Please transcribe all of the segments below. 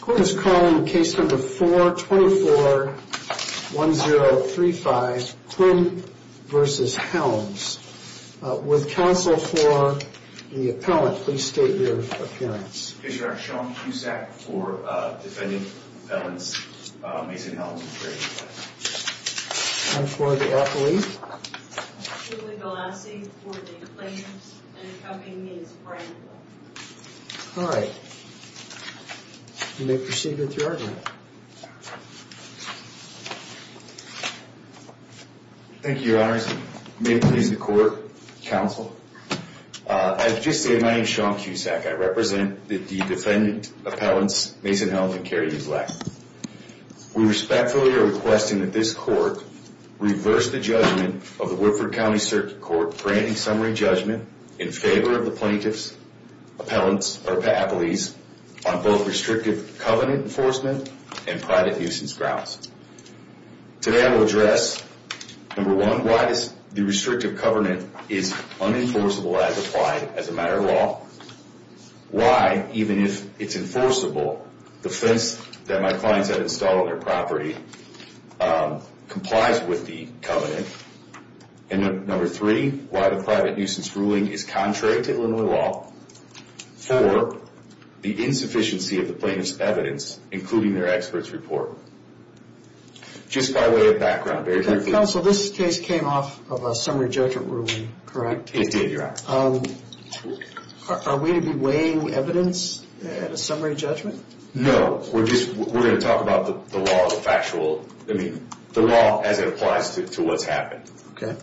Quinn is calling case number 424-1035 Quinn v. Helms. With counsel for the appellant please state your appearance. I'm Sean Cusack for defending the appellant Mason Helms. And for the appellee? Julie Galassi for the plaintiffs and the company is Bramble. Alright, you may proceed with your argument. Thank you, your honors. May it please the court, counsel. As just stated, my name is Sean Cusack. I represent the defendant appellants Mason Helms and Carrie E. Black. We respectfully are requesting that this court reverse the judgment of the Woodford County Circuit Court granting summary judgment in favor of the plaintiff's appellees on both restrictive covenant enforcement and private nuisance grounds. Today I will address number one, why the restrictive covenant is unenforceable as applied as a matter of law. Why, even if it's enforceable, the fence that my clients have installed on their property complies with the covenant. And number three, why the private nuisance ruling is contrary to Illinois law. Four, the insufficiency of the plaintiff's evidence, including their expert's report. Just by way of background, very briefly. Counsel, this case came off of a summary judgment ruling, correct? It did, your honor. Are we to be weighing evidence at a summary judgment? No, we're just, we're going to talk about the law as a factual, I mean, the law as it applies to what's happened. Okay.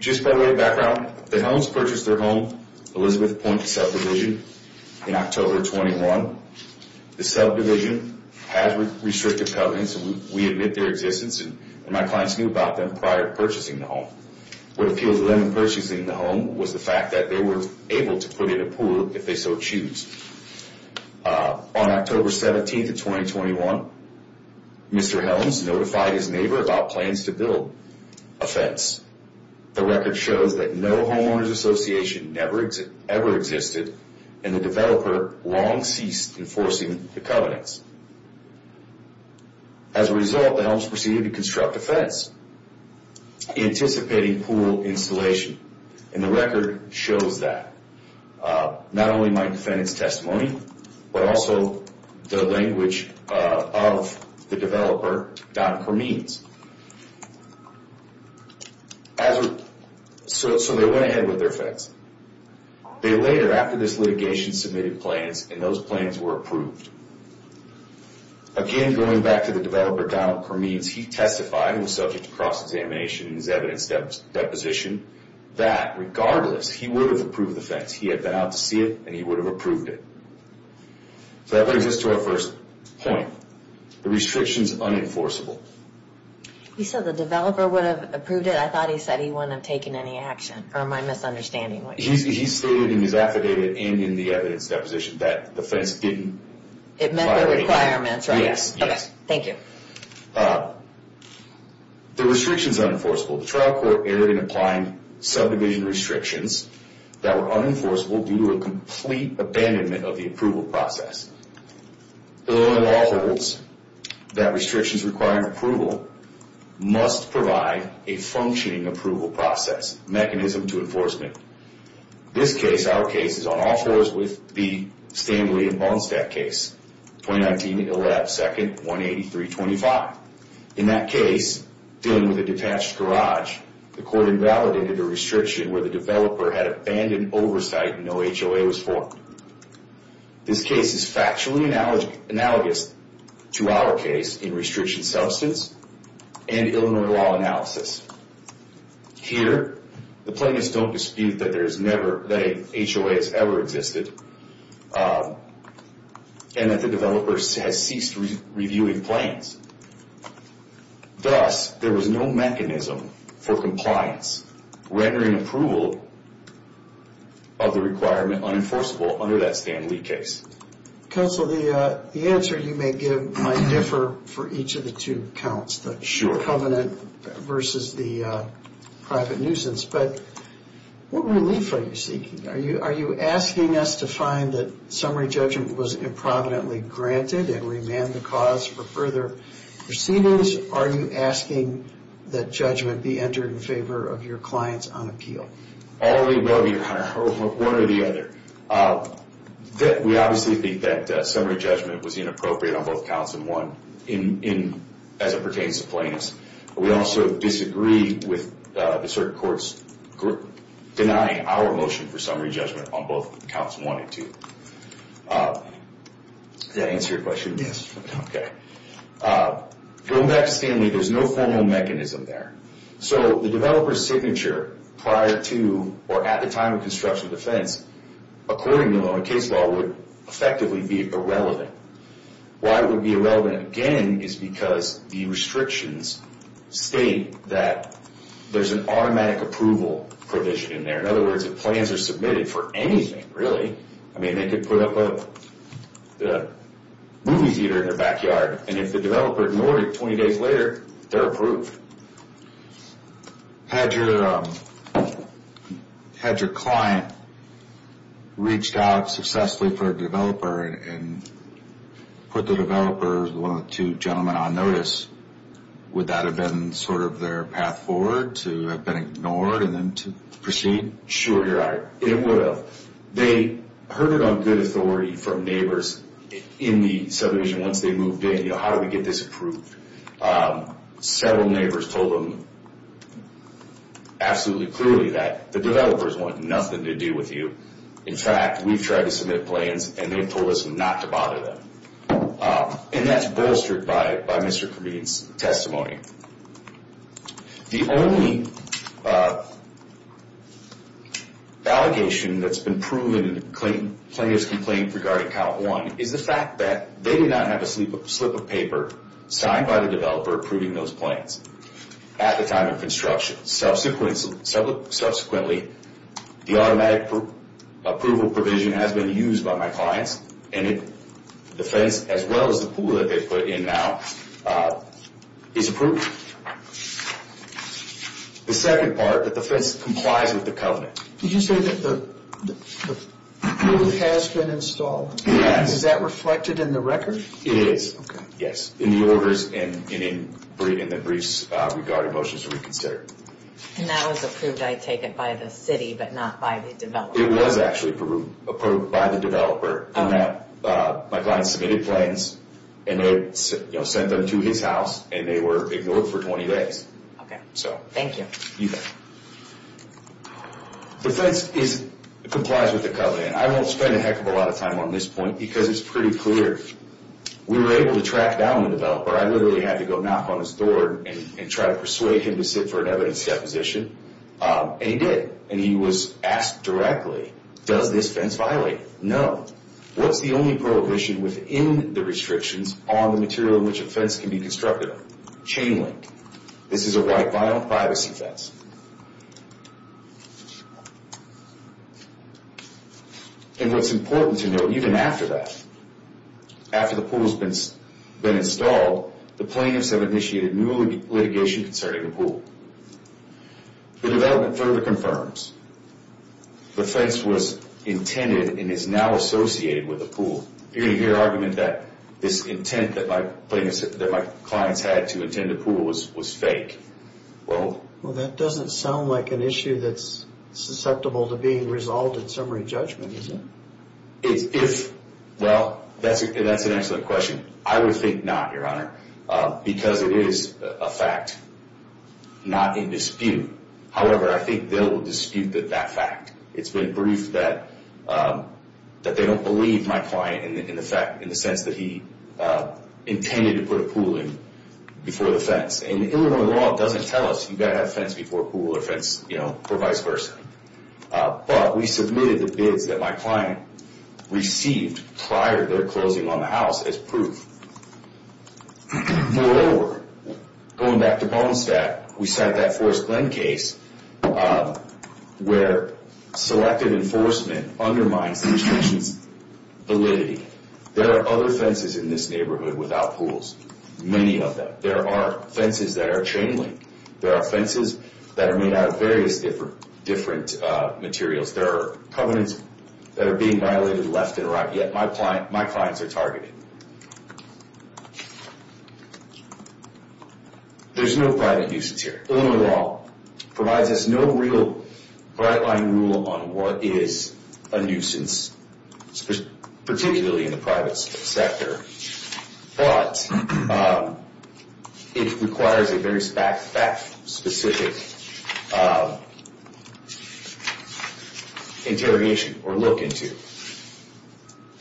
Just by way of background, the Helms purchased their home, Elizabeth Point Subdivision, in October 21. The subdivision has restrictive covenants, and we admit their existence, and my clients knew about them prior to purchasing the home. What appealed to them in purchasing the home was the fact that they were able to put in a pool if they so choose. On October 17th of 2021, Mr. Helms notified his neighbor about plans to build a fence. The record shows that no homeowners association ever existed, and the developer long ceased enforcing the covenants. As a result, the Helms proceeded to construct a fence, anticipating pool installation, and the record shows that. Not only my defendant's testimony, but also the language of the developer, Don Permees. So they went ahead with their fence. They later, after this litigation, submitted plans, and those plans were approved. Again, going back to the developer, Don Permees, he testified, and was subject to cross-examination in his evidence deposition, that regardless, he would have approved the fence. He had been out to see it, and he would have approved it. So that brings us to our first point. The restriction's unenforceable. He said the developer would have approved it. I thought he said he wouldn't have taken any action, or my misunderstanding. He stated in his affidavit and in the evidence deposition that the fence didn't violate the law. It met the requirements, right? Yes. Okay, thank you. The restriction's unenforceable. The trial court erred in applying subdivision restrictions that were unenforceable due to a complete abandonment of the approval process. Illinois law holds that restrictions requiring approval must provide a functioning approval process, mechanism to enforcement. This case, our case, is on all fours with the Stanley and Bohnstadt case, 2019-11-2nd-18325. In that case, dealing with a detached garage, the court invalidated a restriction where the developer had abandoned oversight and no HOA was formed. This case is factually analogous to our case in restriction substance and Illinois law analysis. Here, the plaintiffs don't dispute that HOA has ever existed and that the developer has ceased reviewing plans. Thus, there was no mechanism for compliance rendering approval of the requirement unenforceable under that Stanley case. Counsel, the answer you may give might differ for each of the two counts, the covenant versus the private nuisance. But what relief are you seeking? Are you asking us to find that summary judgment was improvidently granted and remand the cause for further proceedings? Are you asking that judgment be entered in favor of your clients on appeal? All of the above, Your Honor, one or the other. We obviously think that summary judgment was inappropriate on both counts and one as it pertains to plaintiffs. We also disagree with the certain courts denying our motion for summary judgment on both counts one and two. Did that answer your question? Yes. Going back to Stanley, there's no formal mechanism there. So the developer's signature prior to or at the time of construction of the fence, according to Illinois case law, would effectively be irrelevant. Why it would be irrelevant again is because the restrictions state that there's an automatic approval provision in there. In other words, if plans are submitted for anything, really, I mean, they could put up a movie theater in their backyard. And if the developer ignored it 20 days later, they're approved. Had your client reached out successfully for a developer and put the developer, one of the two gentlemen, on notice, would that have been sort of their path forward to have been ignored and then to proceed? Sure, Your Honor, it would have. They heard it on good authority from neighbors in the subdivision once they moved in, you know, how do we get this approved? Several neighbors told them absolutely clearly that the developers want nothing to do with you. In fact, we've tried to submit plans, and they've told us not to bother them. And that's bolstered by Mr. Comedian's testimony. The only allegation that's been proven in the plaintiff's complaint regarding count one is the fact that they did not have a slip of paper signed by the developer approving those plans at the time of construction. Subsequently, the automatic approval provision has been used by my clients, and the fence, as well as the pool that they've put in now, is approved. The second part, that the fence complies with the covenant. Did you say that the pool has been installed? Yes. Is that reflected in the record? It is. Okay. Yes, in the orders and in the briefs regarding motions to reconsider. And that was approved, I take it, by the city, but not by the developer? It was actually approved by the developer in that my client submitted plans, and they sent them to his house, and they were ignored for 20 days. Okay, so thank you. You bet. The fence complies with the covenant. I won't spend a heck of a lot of time on this point because it's pretty clear. We were able to track down the developer. I literally had to go knock on his door and try to persuade him to sit for an evidence deposition, and he did. And he was asked directly, does this fence violate it? No. What's the only prohibition within the restrictions on the material in which a fence can be constructed on? Chain link. This is a white vinyl privacy fence. And what's important to note, even after that, after the pool has been installed, the plaintiffs have initiated new litigation concerning the pool. The development further confirms the fence was intended and is now associated with the pool. You're going to hear argument that this intent that my clients had to attend the pool was fake. Well, that doesn't sound like an issue that's susceptible to being resolved in summary judgment, does it? Well, that's an excellent question. I would think not, Your Honor, because it is a fact not in dispute. However, I think they'll dispute that fact. It's been briefed that they don't believe my client in the sense that he intended to put a pool in before the fence. And Illinois law doesn't tell us you've got to have a fence before a pool or a fence, you know, or vice versa. But we submitted the bids that my client received prior to their closing on the house as proof. Moreover, going back to Bonestack, we cite that Forest Glen case where selective enforcement undermines the institution's validity. There are other fences in this neighborhood without pools, many of them. There are fences that are chain link. There are fences that are made out of various different materials. There are covenants that are being violated left and right, yet my clients are targeted. There's no private nuisance here. Illinois law provides us no real bright-line rule on what is a nuisance, particularly in the private sector. But it requires a very fact-specific interrogation or look into.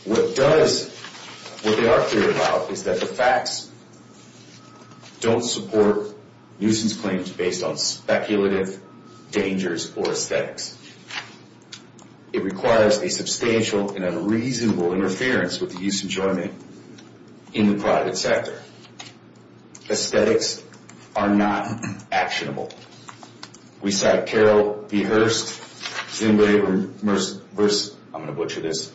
What they are clear about is that the facts don't support nuisance claims based on speculative dangers or aesthetics. It requires a substantial and a reasonable interference with the use and enjoyment in the private sector. Aesthetics are not actionable. We cite Carol B. Hurst, Zimbabwe versus, I'm going to butcher this,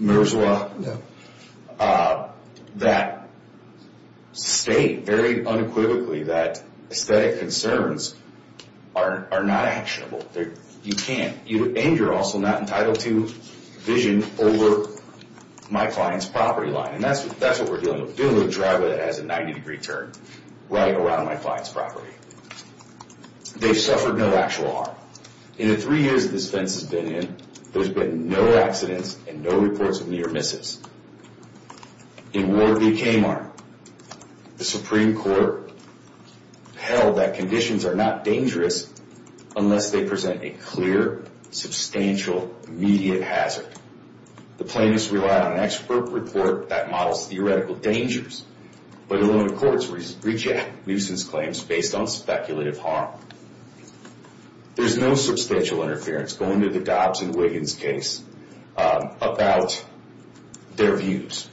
Mirzwa, that state very unequivocally that aesthetic concerns are not actionable. You can't. And you're also not entitled to vision over my client's property line. And that's what we're dealing with. We're dealing with a driveway that has a 90 degree turn right around my client's property. They've suffered no actual harm. In the three years that this fence has been in, there's been no accidents and no reports of near misses. In Ward v. Kamarn, the Supreme Court held that conditions are not dangerous unless they present a clear, substantial, immediate hazard. The plaintiffs relied on an expert report that models theoretical dangers. But Illinois courts reject nuisance claims based on speculative harm. There's no substantial interference going to the Dobbs and Wiggins case about their views.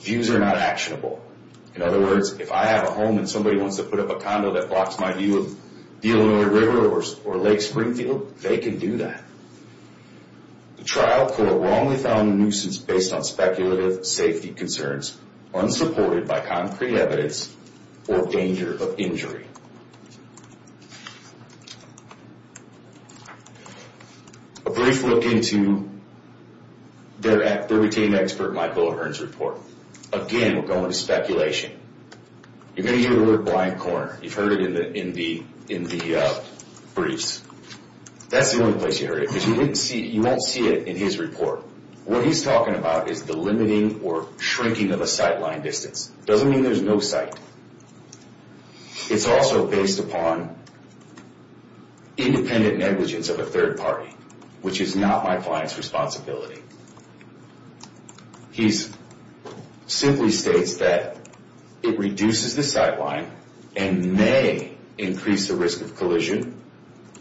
Views are not actionable. In other words, if I have a home and somebody wants to put up a condo that blocks my view of the Illinois River or Lake Springfield, they can do that. The trial court wrongly found nuisance based on speculative safety concerns, unsupported by concrete evidence, or danger of injury. A brief look into their retained expert Michael O'Hearn's report. Again, we're going to speculation. You're going to hear the word blind corner. You've heard it in the briefs. That's the only place you heard it, because you won't see it in his report. What he's talking about is the limiting or shrinking of a sight line distance. It doesn't mean there's no sight. It's also based upon independent negligence of a third party, which is not my client's responsibility. He simply states that it reduces the sight line and may increase the risk of collision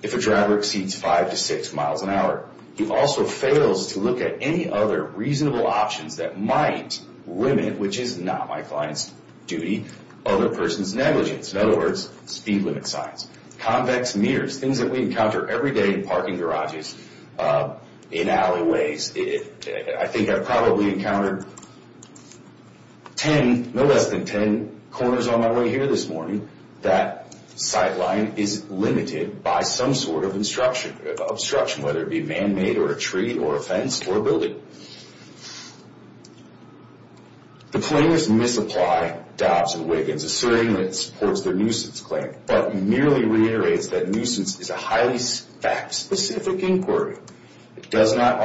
if a driver exceeds five to six miles an hour. He also fails to look at any other reasonable options that might limit, which is not my client's duty, other person's negligence. In other words, speed limit signs. Convex meters, things that we encounter every day in parking garages, in alleyways. I think I probably encountered no less than ten corners on my way here this morning. That sight line is limited by some sort of obstruction, whether it be man-made or a tree or a fence or a building. The claimants misapply Dobbs and Wiggins, asserting that it supports their nuisance claim, but merely reiterates that nuisance is a highly fact-specific inquiry. It does not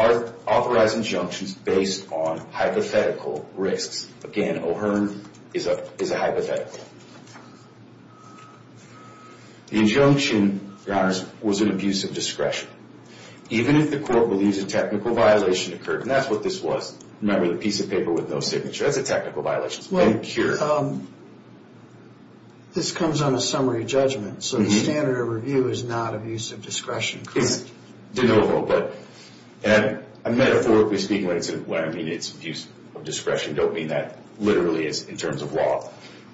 authorize injunctions based on hypothetical risks. Again, O'Hearn is a hypothetical. The injunction, Your Honors, was an abuse of discretion. Even if the court believes a technical violation occurred, and that's what this was. Remember the piece of paper with no signature. That's a technical violation. It's been cured. This comes on a summary judgment, so the standard of review is not abuse of discretion, correct? De novo. And metaphorically speaking, when I say abuse of discretion, I don't mean that literally in terms of law.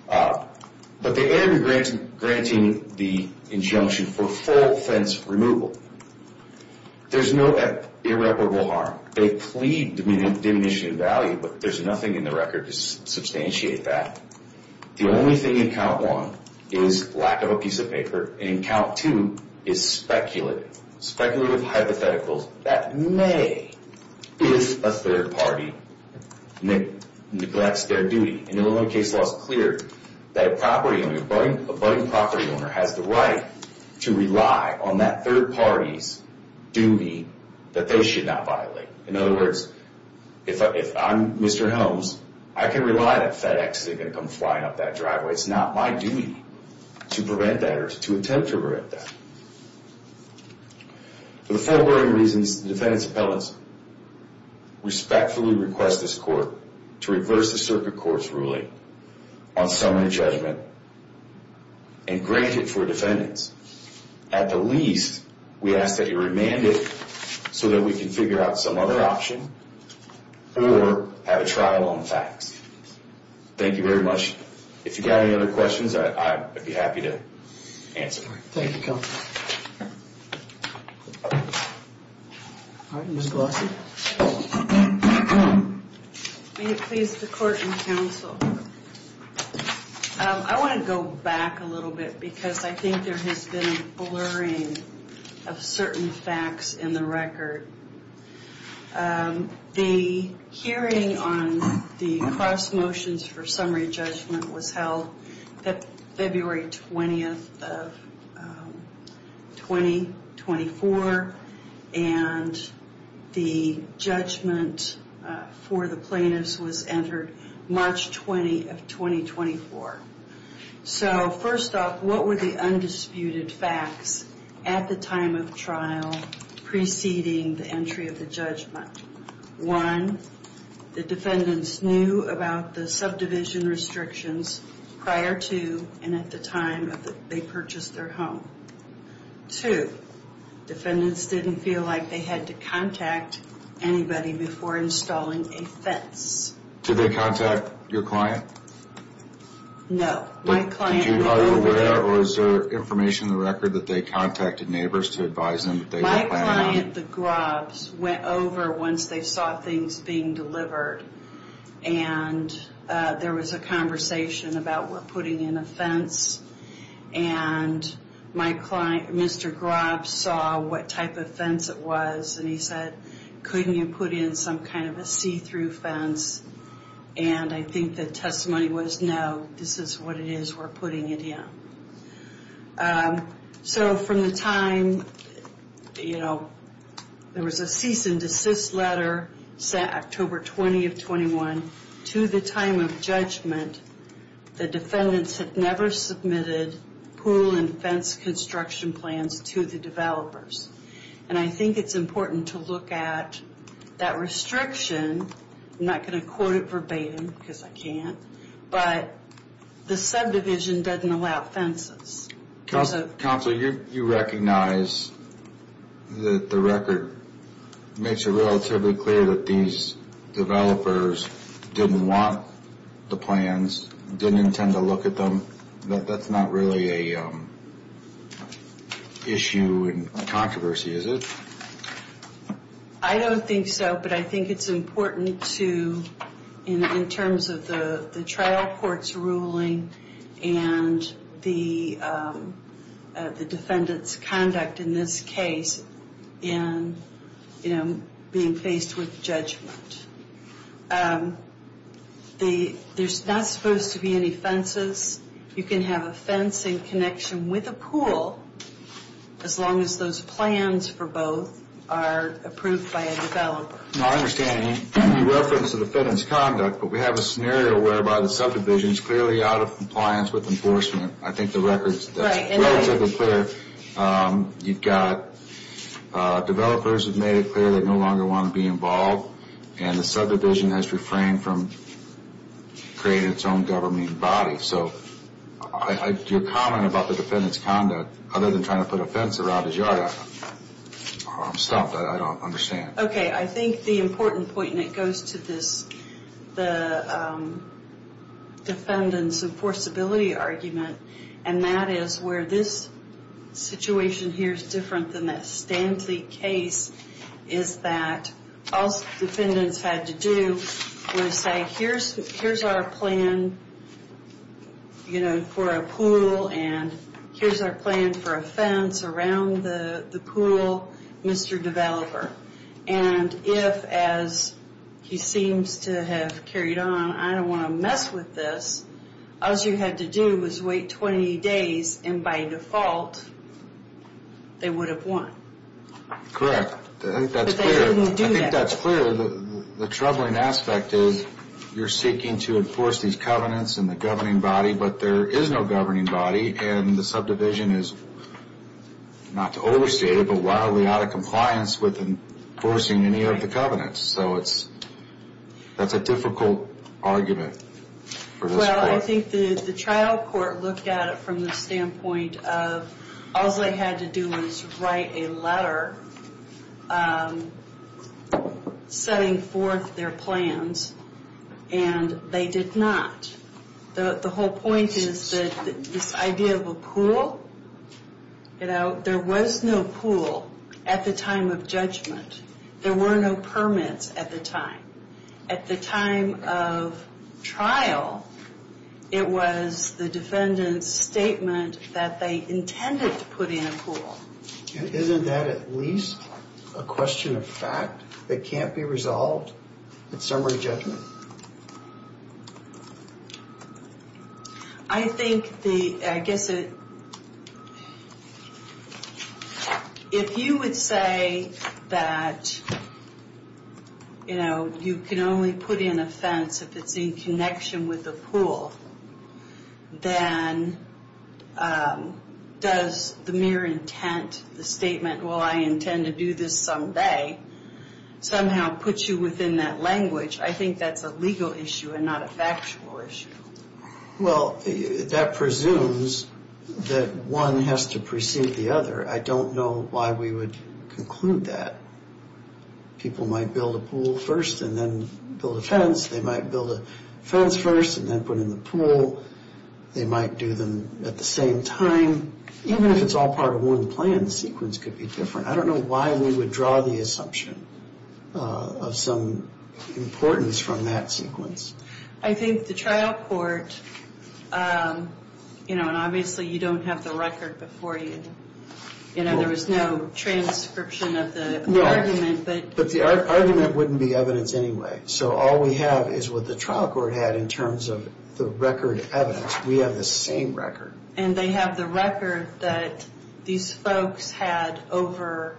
But they end up granting the injunction for full fence removal. There's no irreparable harm. They plead diminution of value, but there's nothing in the record to substantiate that. The only thing in count one is lack of a piece of paper, and in count two is speculative. Speculative hypotheticals that may, if a third party neglects their duty, and Illinois case law is clear, that a property owner, a budding property owner, has the right to rely on that third party's duty that they should not violate. In other words, if I'm Mr. Holmes, I can rely that FedEx isn't going to come flying up that driveway. It's not my duty to prevent that or to attempt to prevent that. For the following reasons, the defendant's appellants respectfully request this court to reverse the circuit court's ruling on summary judgment and grant it for defendants. At the least, we ask that you remand it so that we can figure out some other option or have a trial on the facts. Thank you very much. If you've got any other questions, I'd be happy to answer them. Thank you, counsel. All right, Ms. Glossy. May it please the court and counsel, I want to go back a little bit because I think there has been a blurring of certain facts in the record. The hearing on the cross motions for summary judgment was held February 20th of 2024, and the judgment for the plaintiffs was entered March 20th of 2024. So, first off, what were the undisputed facts at the time of trial preceding the entry of the judgment? One, the defendants knew about the subdivision restrictions prior to and at the time they purchased their home. Two, defendants didn't feel like they had to contact anybody before installing a fence. Did they contact your client? No. Are you aware or is there information in the record that they contacted neighbors to advise them that they were planning on? My client, the Grobs, went over once they saw things being delivered, and there was a conversation about we're putting in a fence, and my client, Mr. Grobs, saw what type of fence it was, and he said, couldn't you put in some kind of a see-through fence? And I think the testimony was, no, this is what it is we're putting it in. So, from the time, you know, there was a cease and desist letter set October 20th of 21, to the time of judgment, the defendants had never submitted pool and fence construction plans to the developers. And I think it's important to look at that restriction. I'm not going to quote it verbatim because I can't, but the subdivision doesn't allow fences. Counsel, you recognize that the record makes it relatively clear that these developers didn't want the plans, didn't intend to look at them, that that's not really an issue and controversy, is it? I don't think so, but I think it's important to, in terms of the trial court's ruling and the defendant's conduct in this case in, you know, being faced with judgment. There's not supposed to be any fences. You can have a fence in connection with a pool, as long as those plans for both are approved by a developer. No, I understand. You referenced the defendant's conduct. But we have a scenario whereby the subdivision's clearly out of compliance with enforcement. I think the record's relatively clear. You've got developers who've made it clear they no longer want to be involved, and the subdivision has refrained from creating its own governing body. So, your comment about the defendant's conduct, other than trying to put a fence around his yard, I'm stumped. I don't understand. Okay, I think the important point, and it goes to the defendant's enforceability argument, and that is where this situation here is different than that Stanley case, is that all the defendants had to do was say, here's our plan, you know, for a pool, and here's our plan for a fence around the pool, Mr. Developer. And if, as he seems to have carried on, I don't want to mess with this, all you had to do was wait 20 days, and by default, they would have won. Correct. I think that's clear. But they didn't do that. I think that's clear. The troubling aspect is, you're seeking to enforce these covenants in the governing body, but there is no governing body, and the subdivision is, not to overstate it, but wildly out of compliance with enforcing any of the covenants. So, that's a difficult argument for this court. Well, I think the trial court looked at it from the standpoint of, all they had to do was write a letter setting forth their plans, and they did not. The whole point is that this idea of a pool, you know, there was no pool at the time of judgment. There were no permits at the time. At the time of trial, it was the defendant's statement that they intended to put in a pool. Isn't that at least a question of fact that can't be resolved at summary judgment? I think the, I guess, if you would say that, you know, you can only put in a fence if it's in connection with a pool, then does the mere intent, the statement, well, I intend to do this someday, somehow put you within that language, I think that's a legal issue and not a factual issue. Well, that presumes that one has to precede the other. I don't know why we would conclude that. People might build a pool first and then build a fence. They might build a fence first and then put in the pool. They might do them at the same time. Even if it's all part of one plan, the sequence could be different. I don't know why we would draw the assumption of some importance from that sequence. I think the trial court, you know, and obviously you don't have the record before you. You know, there was no transcription of the argument. But the argument wouldn't be evidence anyway. So all we have is what the trial court had in terms of the record evidence. We have the same record. And they have the record that these folks had over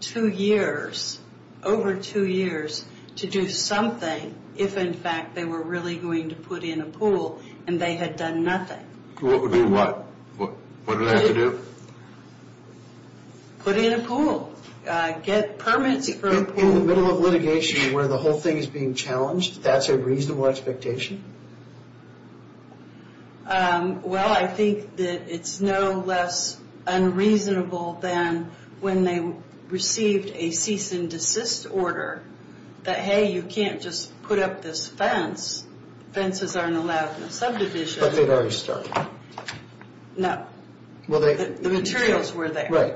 two years, over two years, to do something if, in fact, they were really going to put in a pool and they had done nothing. Do what? What do they have to do? Put in a pool. Get permits for a pool. In the middle of litigation where the whole thing is being challenged? That's a reasonable expectation? Well, I think that it's no less unreasonable than when they received a cease and desist order. That, hey, you can't just put up this fence. Fences aren't allowed in a subdivision. But they'd already started. No. The materials were there. Right.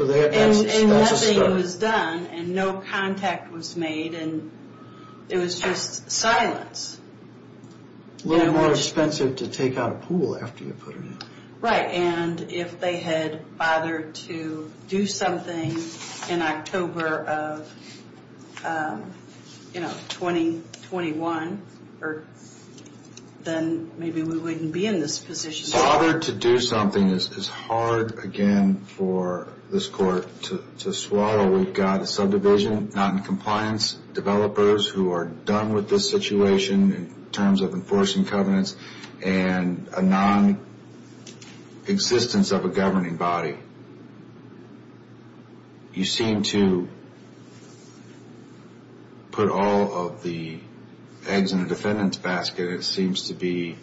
And nothing was done and no contact was made. It was just silence. A little more expensive to take out a pool after you put them in. Right. And if they had bothered to do something in October of, you know, 2021, then maybe we wouldn't be in this position. Bothered to do something is hard, again, for this court to swallow. Well, we've got a subdivision, non-compliance developers who are done with this situation in terms of enforcing covenants and a non-existence of a governing body. You seem to put all of the eggs in a defendant's basket. It seems to be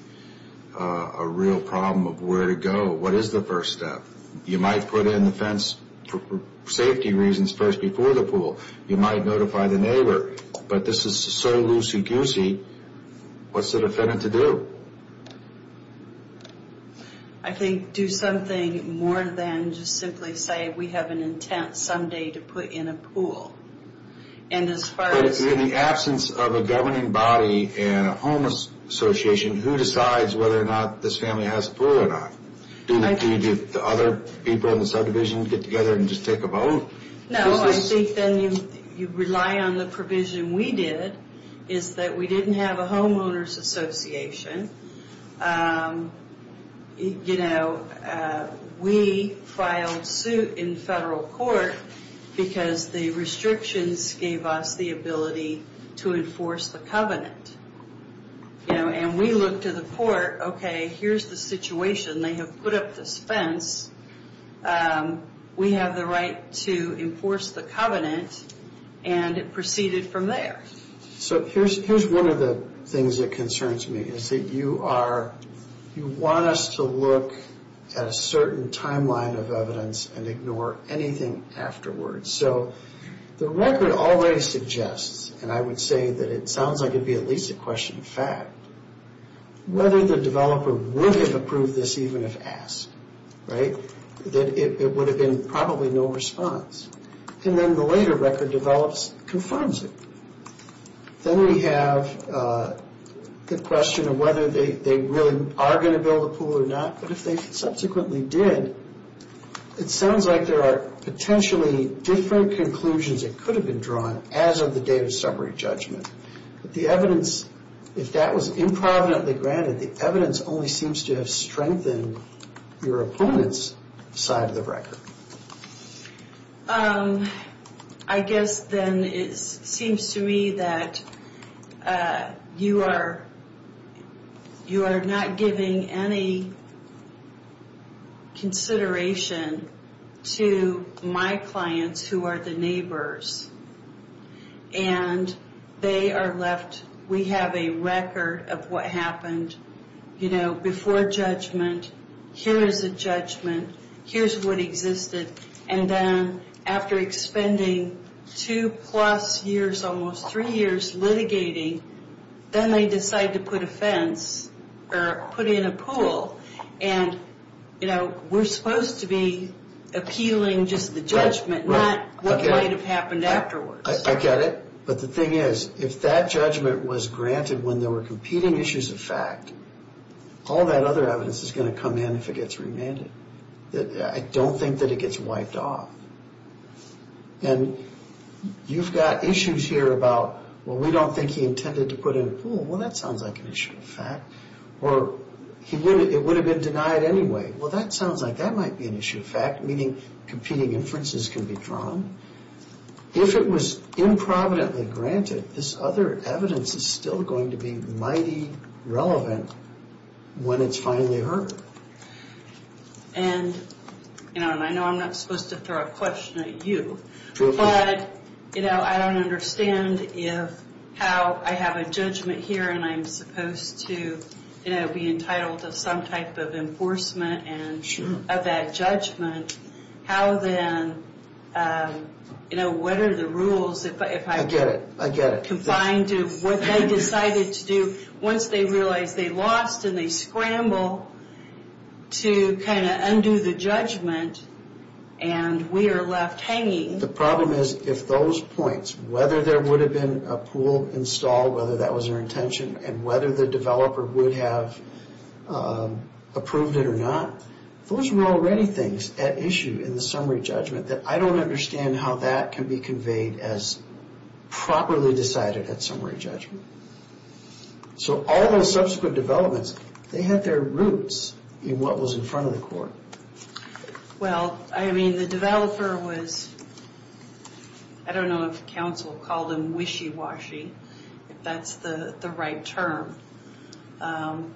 a real problem of where to go. What is the first step? You might put in the fence for safety reasons first before the pool. You might notify the neighbor. But this is so loosey-goosey, what's the defendant to do? I think do something more than just simply say we have an intent someday to put in a pool. In the absence of a governing body and a homeless association, who decides whether or not this family has a pool or not? Do you get the other people in the subdivision to get together and just take a vote? No, I think then you rely on the provision we did, is that we didn't have a homeowners association. You know, we filed suit in federal court because the restrictions gave us the ability to enforce the covenant. You know, and we look to the court, okay, here's the situation. They have put up this fence. We have the right to enforce the covenant, and it proceeded from there. So here's one of the things that concerns me, is that you want us to look at a certain timeline of evidence and ignore anything afterwards. So the record already suggests, and I would say that it sounds like it'd be at least a question of fact, whether the developer would have approved this even if asked, right? That it would have been probably no response. And then the later record develops, confirms it. Then we have the question of whether they really are going to build a pool or not. But if they subsequently did, it sounds like there are potentially different conclusions that could have been drawn as of the date of summary judgment. But the evidence, if that was improvidently granted, the evidence only seems to have strengthened your opponent's side of the record. I guess then it seems to me that you are not giving any consideration to my clients who are the neighbors. And they are left, we have a record of what happened, you know, before judgment. Here is a judgment, here's what existed. And then after expending two plus years, almost three years litigating, then they decide to put a fence or put in a pool. And, you know, we're supposed to be appealing just the judgment, not what might have happened afterwards. I get it. But the thing is, if that judgment was granted when there were competing issues of fact, all that other evidence is going to come in if it gets remanded. I don't think that it gets wiped off. And you've got issues here about, well, we don't think he intended to put in a pool. Well, that sounds like an issue of fact. Or it would have been denied anyway. Well, that sounds like that might be an issue of fact, meaning competing inferences can be drawn. If it was improvidently granted, this other evidence is still going to be mighty relevant when it's finally heard. And, you know, and I know I'm not supposed to throw a question at you. But, you know, I don't understand if how I have a judgment here, and I'm supposed to, you know, be entitled to some type of enforcement of that judgment. How then, you know, what are the rules if I get it? I get it. Confined to what they decided to do once they realized they lost and they scramble to kind of undo the judgment and we are left hanging. The problem is if those points, whether there would have been a pool installed, whether that was their intention and whether the developer would have approved it or not, those were already things at issue in the summary judgment that I don't understand how that can be conveyed as properly decided at summary judgment. So all those subsequent developments, they had their roots in what was in front of the court. Well, I mean, the developer was, I don't know if counsel called him wishy-washy, if that's the right term. Again,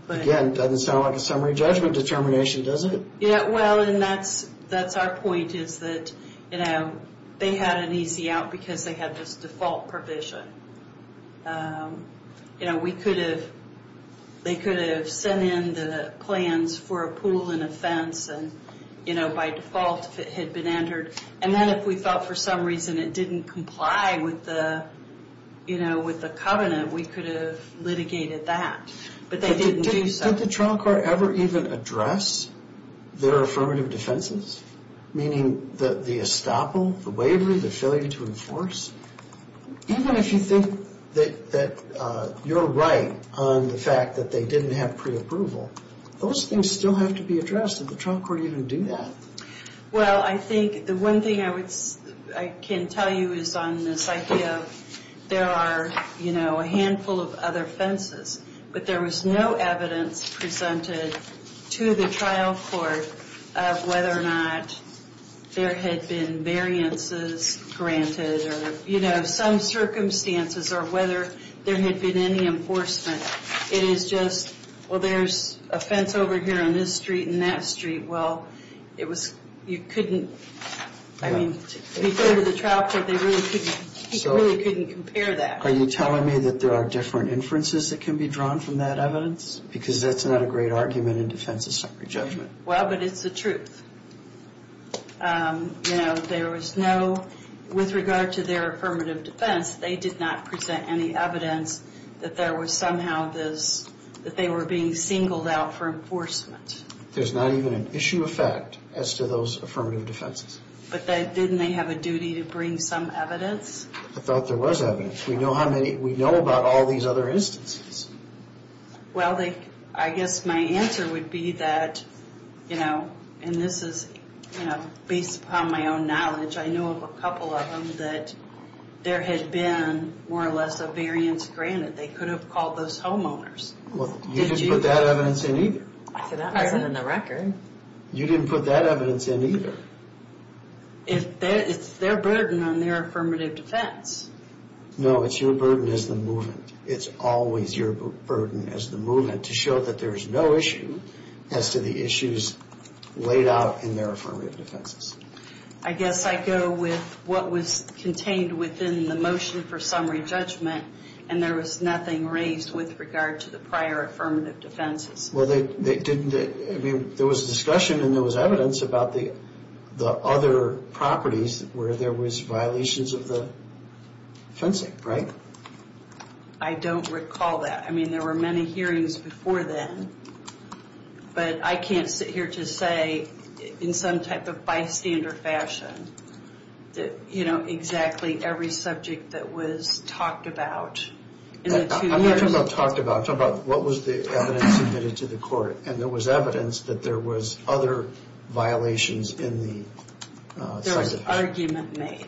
it doesn't sound like a summary judgment determination, does it? Yeah, well, and that's our point is that, you know, they had an easy out because they had this default provision. You know, we could have, they could have sent in the plans for a pool and a fence and, you know, by default if it had been entered. And then if we felt for some reason it didn't comply with the, you know, with the covenant, we could have litigated that. But they didn't do so. Did the trial court ever even address their affirmative defenses? Meaning the estoppel, the waiver, the failure to enforce? Even if you think that you're right on the fact that they didn't have preapproval, those things still have to be addressed. Did the trial court even do that? Well, I think the one thing I would, I can tell you is on this idea of there are, you know, a handful of other fences. But there was no evidence presented to the trial court of whether or not there had been variances granted or, you know, some circumstances or whether there had been any enforcement. It is just, well, there's a fence over here on this street and that street. Well, it was, you couldn't, I mean, referring to the trial court, they really couldn't compare that. Are you telling me that there are different inferences that can be drawn from that evidence? Because that's not a great argument in defense of separate judgment. Well, but it's the truth. You know, there was no, with regard to their affirmative defense, they did not present any evidence that there was somehow this, that they were being singled out for enforcement. There's not even an issue of fact as to those affirmative defenses. But didn't they have a duty to bring some evidence? I thought there was evidence. We know how many, we know about all these other instances. Well, they, I guess my answer would be that, you know, and this is, you know, based upon my own knowledge, I know of a couple of them that there had been more or less a variance granted. They could have called those homeowners. Well, you didn't put that evidence in either. That wasn't in the record. You didn't put that evidence in either. It's their burden on their affirmative defense. No, it's your burden as the movement. It's always your burden as the movement to show that there is no issue as to the issues laid out in their affirmative defenses. I guess I go with what was contained within the motion for summary judgment, and there was nothing raised with regard to the prior affirmative defenses. Well, they didn't, I mean, there was discussion and there was evidence about the other properties where there was violations of the fencing, right? I don't recall that. I mean, there were many hearings before then. But I can't sit here to say in some type of bystander fashion that, you know, exactly every subject that was talked about. I'm not talking about talked about, I'm talking about what was the evidence submitted to the court. And there was evidence that there was other violations in the subject. There was argument made.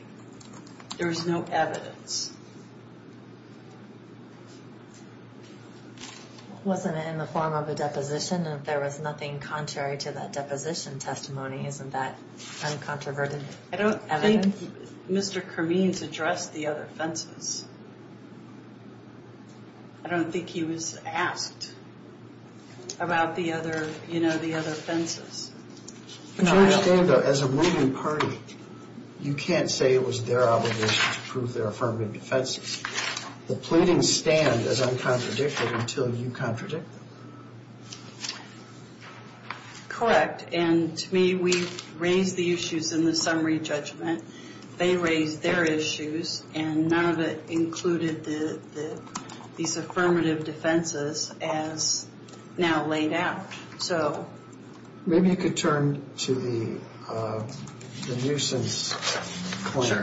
There was no evidence. Wasn't it in the form of a deposition and there was nothing contrary to that deposition testimony? Isn't that uncontroverted evidence? I don't think Mr. Kermene addressed the other fences. I don't think he was asked about the other, you know, the other fences. But you understand, though, as a moving party, you can't say it was their obligation to prove their affirmative defenses. The pleadings stand as uncontradicted until you contradict them. Correct. And to me, we raised the issues in the summary judgment. They raised their issues and none of it included these affirmative defenses as now laid out. So maybe you could turn to the nuisance point.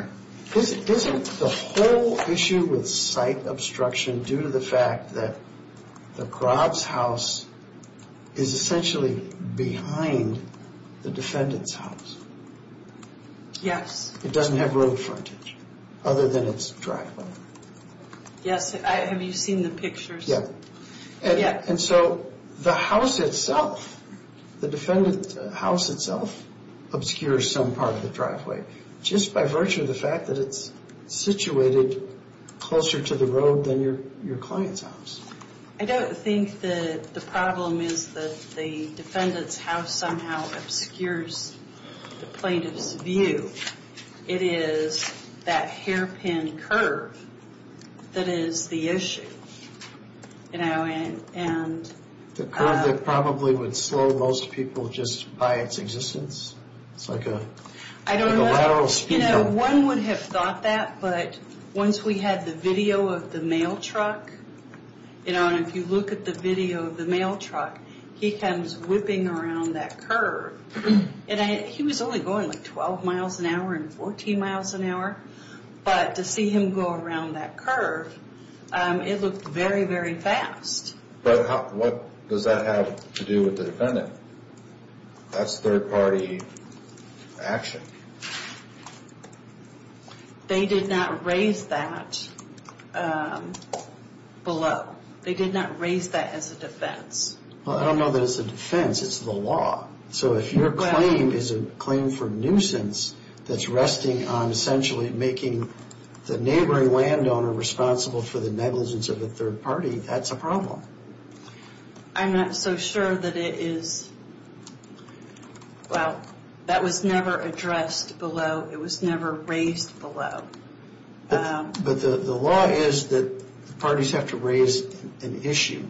Isn't the whole issue with site obstruction due to the fact that the Crobs house is essentially behind the defendant's house? Yes. It doesn't have road frontage other than its driveway. Yes. Have you seen the pictures? Yeah. And so the house itself, the defendant's house itself obscures some part of the driveway. Just by virtue of the fact that it's situated closer to the road than your client's house. I don't think that the problem is that the defendant's house somehow obscures the plaintiff's view. It is that hairpin curve that is the issue, you know, and... The curve that probably would slow most people just by its existence? I don't know. You know, one would have thought that. But once we had the video of the mail truck, you know, and if you look at the video of the mail truck, he comes whipping around that curve. And he was only going like 12 miles an hour and 14 miles an hour. But to see him go around that curve, it looked very, very fast. But what does that have to do with the defendant? That's third-party action. They did not raise that below. They did not raise that as a defense. Well, I don't know that it's a defense. It's the law. So if your claim is a claim for nuisance that's resting on essentially making the neighboring landowner responsible for the negligence of a third party, that's a problem. I'm not so sure that it is... Well, that was never addressed below. It was never raised below. But the law is that parties have to raise an issue.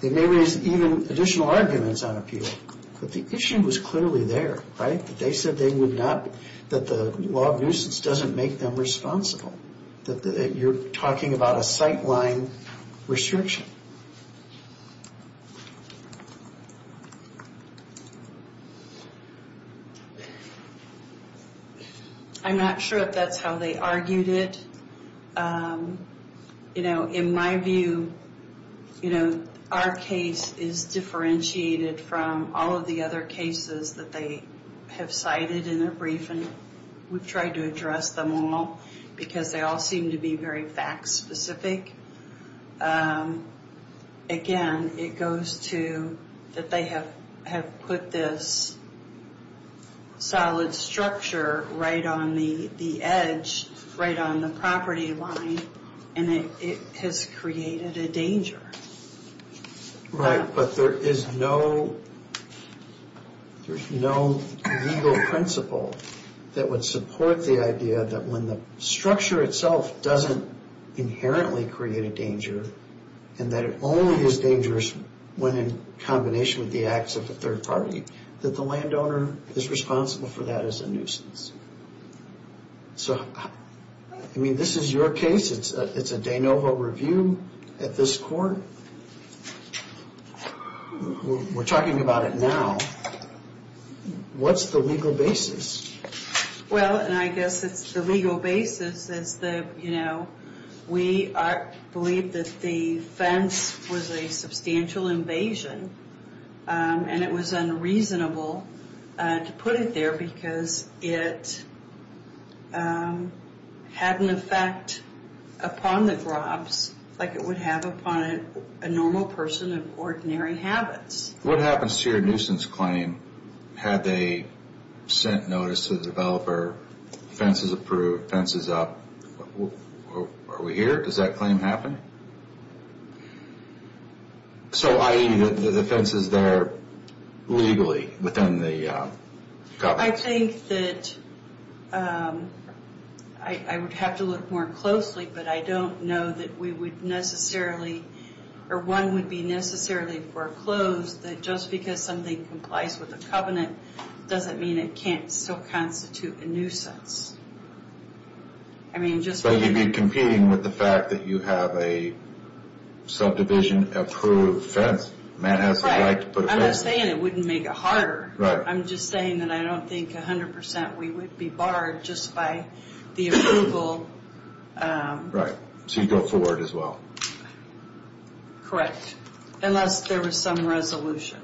They may raise even additional arguments on appeal. But the issue was clearly there, right? They said they would not... that the law of nuisance doesn't make them responsible. You're talking about a sightline restriction. I'm not sure if that's how they argued it. You know, in my view, our case is differentiated from all of the other cases that they have cited in their brief. And we've tried to address them all because they all seem to be very fact-specific. Again, it goes to that they have put this solid structure right on the edge, right on the property line, and it has created a danger. Right, but there is no legal principle that would support the idea that when the structure itself doesn't inherently create a danger, and that it only is dangerous when in combination with the acts of a third party, that the landowner is responsible for that as a nuisance. So, I mean, this is your case. It's a de novo review at this court. We're talking about it now. What's the legal basis? Well, and I guess it's the legal basis is that, you know, we believe that the fence was a substantial invasion. And it was unreasonable to put it there because it had an effect upon the grobs like it would have upon a normal person of ordinary habits. What happens to your nuisance claim had they sent notice to the developer, fence is approved, fence is up? Are we here? Does that claim happen? No. So, i.e., the fence is there legally within the covenant? I think that I would have to look more closely, but I don't know that we would necessarily, or one would be necessarily foreclosed that just because something complies with the covenant doesn't mean it can't still constitute a nuisance. I mean, just... But you'd be competing with the fact that you have a subdivision approved fence. The man has the right to put a fence there. Right. I'm not saying it wouldn't make it harder. Right. I'm just saying that I don't think 100% we would be barred just by the approval. Right. So you'd go forward as well. Correct. Unless there was some resolution.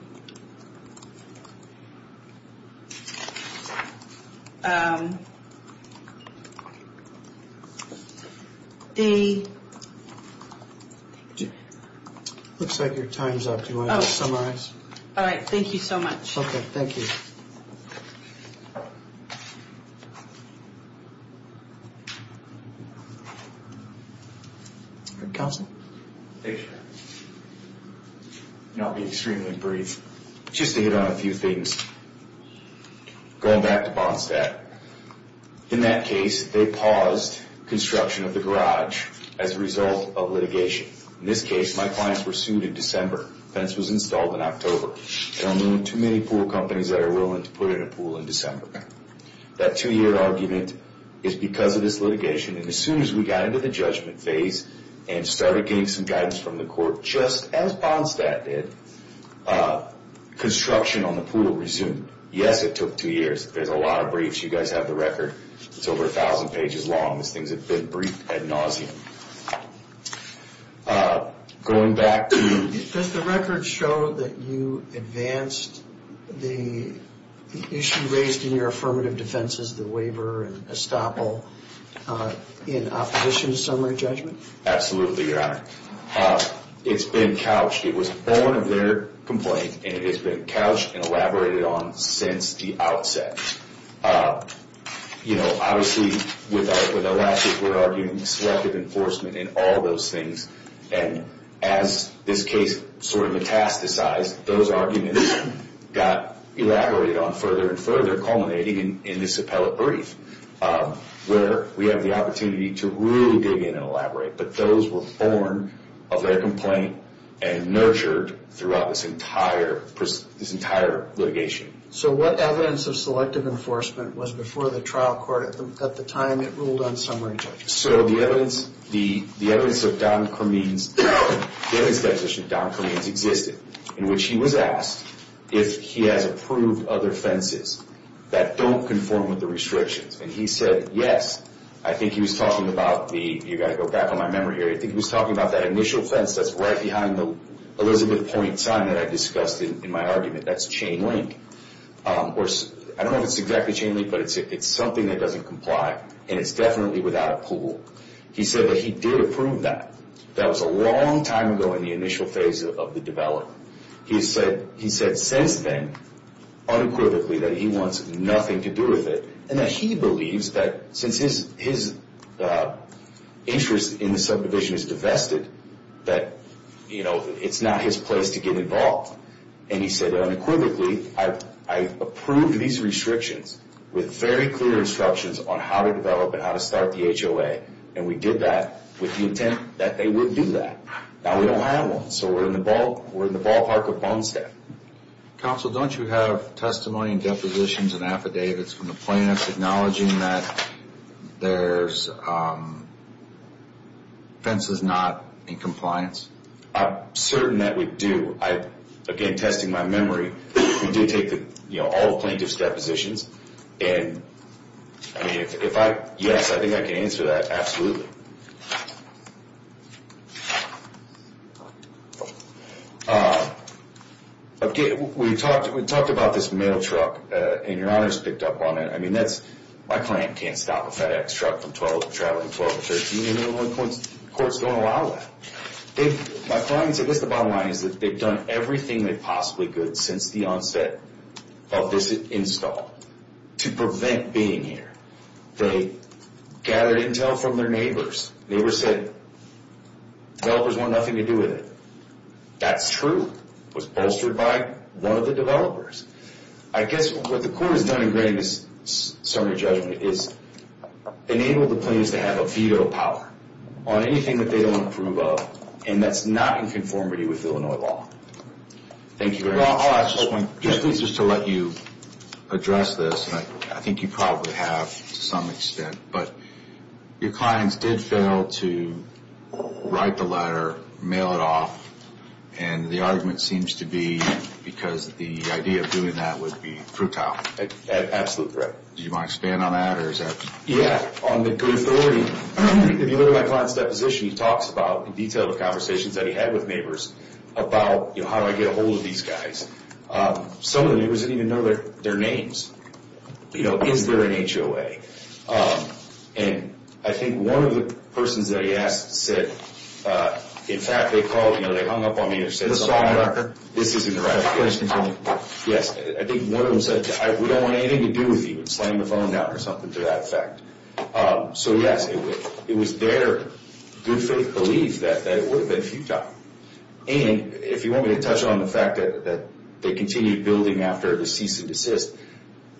The... Looks like your time's up. Do you want to summarize? All right. Thank you so much. Okay. Thank you. Council? Thank you. I'll be extremely brief, just to hit on a few things. Going back to Bondstat, in that case, they paused construction of the garage as a result of litigation. In this case, my clients were sued in December. The fence was installed in October. There are only too many pool companies that are willing to put in a pool in December. That two-year argument is because of this litigation, and as soon as we got into the judgment phase and started getting some guidance from the court, just as Bondstat did, construction on the pool resumed. Yes, it took two years. There's a lot of briefs. You guys have the record. It's over 1,000 pages long. These things have been briefed ad nauseum. Going back to... Does the record show that you advanced the issue raised in your affirmative defense, the waiver and estoppel, in opposition to summary judgment? Absolutely, Your Honor. It's been couched. It was born of their complaint, and it has been couched and elaborated on since the outset. You know, obviously, with Elastic, we're arguing selective enforcement and all those things, and as this case sort of metastasized, those arguments got elaborated on further and further, culminating in this appellate brief, where we have the opportunity to really dig in and elaborate. But those were born of their complaint and nurtured throughout this entire litigation. So what evidence of selective enforcement was before the trial court at the time it ruled on summary judgment? So the evidence of Don Cormean's... The evidence deposition of Don Cormean's existed, in which he was asked if he has approved other offenses that don't conform with the restrictions. And he said, yes. I think he was talking about the... You've got to go back on my memory here. I think he was talking about that initial offense that's right behind the Elizabeth Point sign that I discussed in my argument. That's chain link. I don't know if it's exactly chain link, but it's something that doesn't comply, and it's definitely without a pool. He said that he did approve that. That was a long time ago in the initial phase of the development. He said since then, unequivocally, that he wants nothing to do with it, and that he believes that since his interest in the subdivision is divested, that it's not his place to get involved. And he said that unequivocally, I approved these restrictions with very clear instructions on how to develop and how to start the HOA, and we did that with the intent that they would do that. Now we don't have one, so we're in the ballpark of Bonestead. Counsel, don't you have testimony and depositions and affidavits from the plaintiffs acknowledging that there's offenses not in compliance? I'm certain that we do. Again, testing my memory, we did take all the plaintiff's depositions, and yes, I think I can answer that, absolutely. Okay, we talked about this mail truck, and your Honor's picked up on it. I mean, my client can't stop a FedEx truck from traveling from 12 to 13, and the court's going to allow that. My client's, I guess the bottom line is that they've done everything they possibly could since the onset of this install to prevent being here. They gathered intel from their neighbors. Neighbors said developers want nothing to do with it. That's true. It was bolstered by one of the developers. I guess what the court has done in granting this summary judgment is enable the plaintiffs to have a veto power on anything that they don't approve of, and that's not in conformity with Illinois law. Thank you very much. Well, I'll ask this one just to let you address this, and I think you probably have to some extent, but your clients did fail to write the letter, mail it off, and the argument seems to be because the idea of doing that would be fruitile. Absolutely correct. Do you want to expand on that? Yeah. On the good authority, if you look at my client's deposition, he talks about in detail the conversations that he had with neighbors about how do I get a hold of these guys. Some of the neighbors didn't even know their names. Is there an HOA? And I think one of the persons that he asked said, in fact, they hung up on me and said, this isn't the right place. Yes, I think one of them said, we don't want anything to do with you and slammed the phone down or something to that effect. So, yes, it was their good faith belief that it would have been futile. And if you want me to touch on the fact that they continued building after the cease and desist,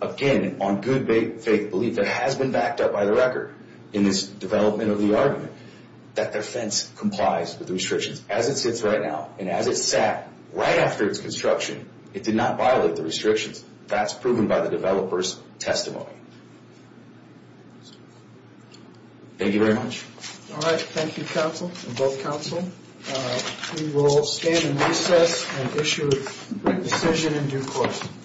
again, on good faith belief, it has been backed up by the record in this development of the argument that their fence complies with the restrictions. As it sits right now and as it sat right after its construction, it did not violate the restrictions. That's proven by the developer's testimony. Thank you very much. All right. Thank you, counsel and both counsel. We will stand in recess and issue a decision in due course.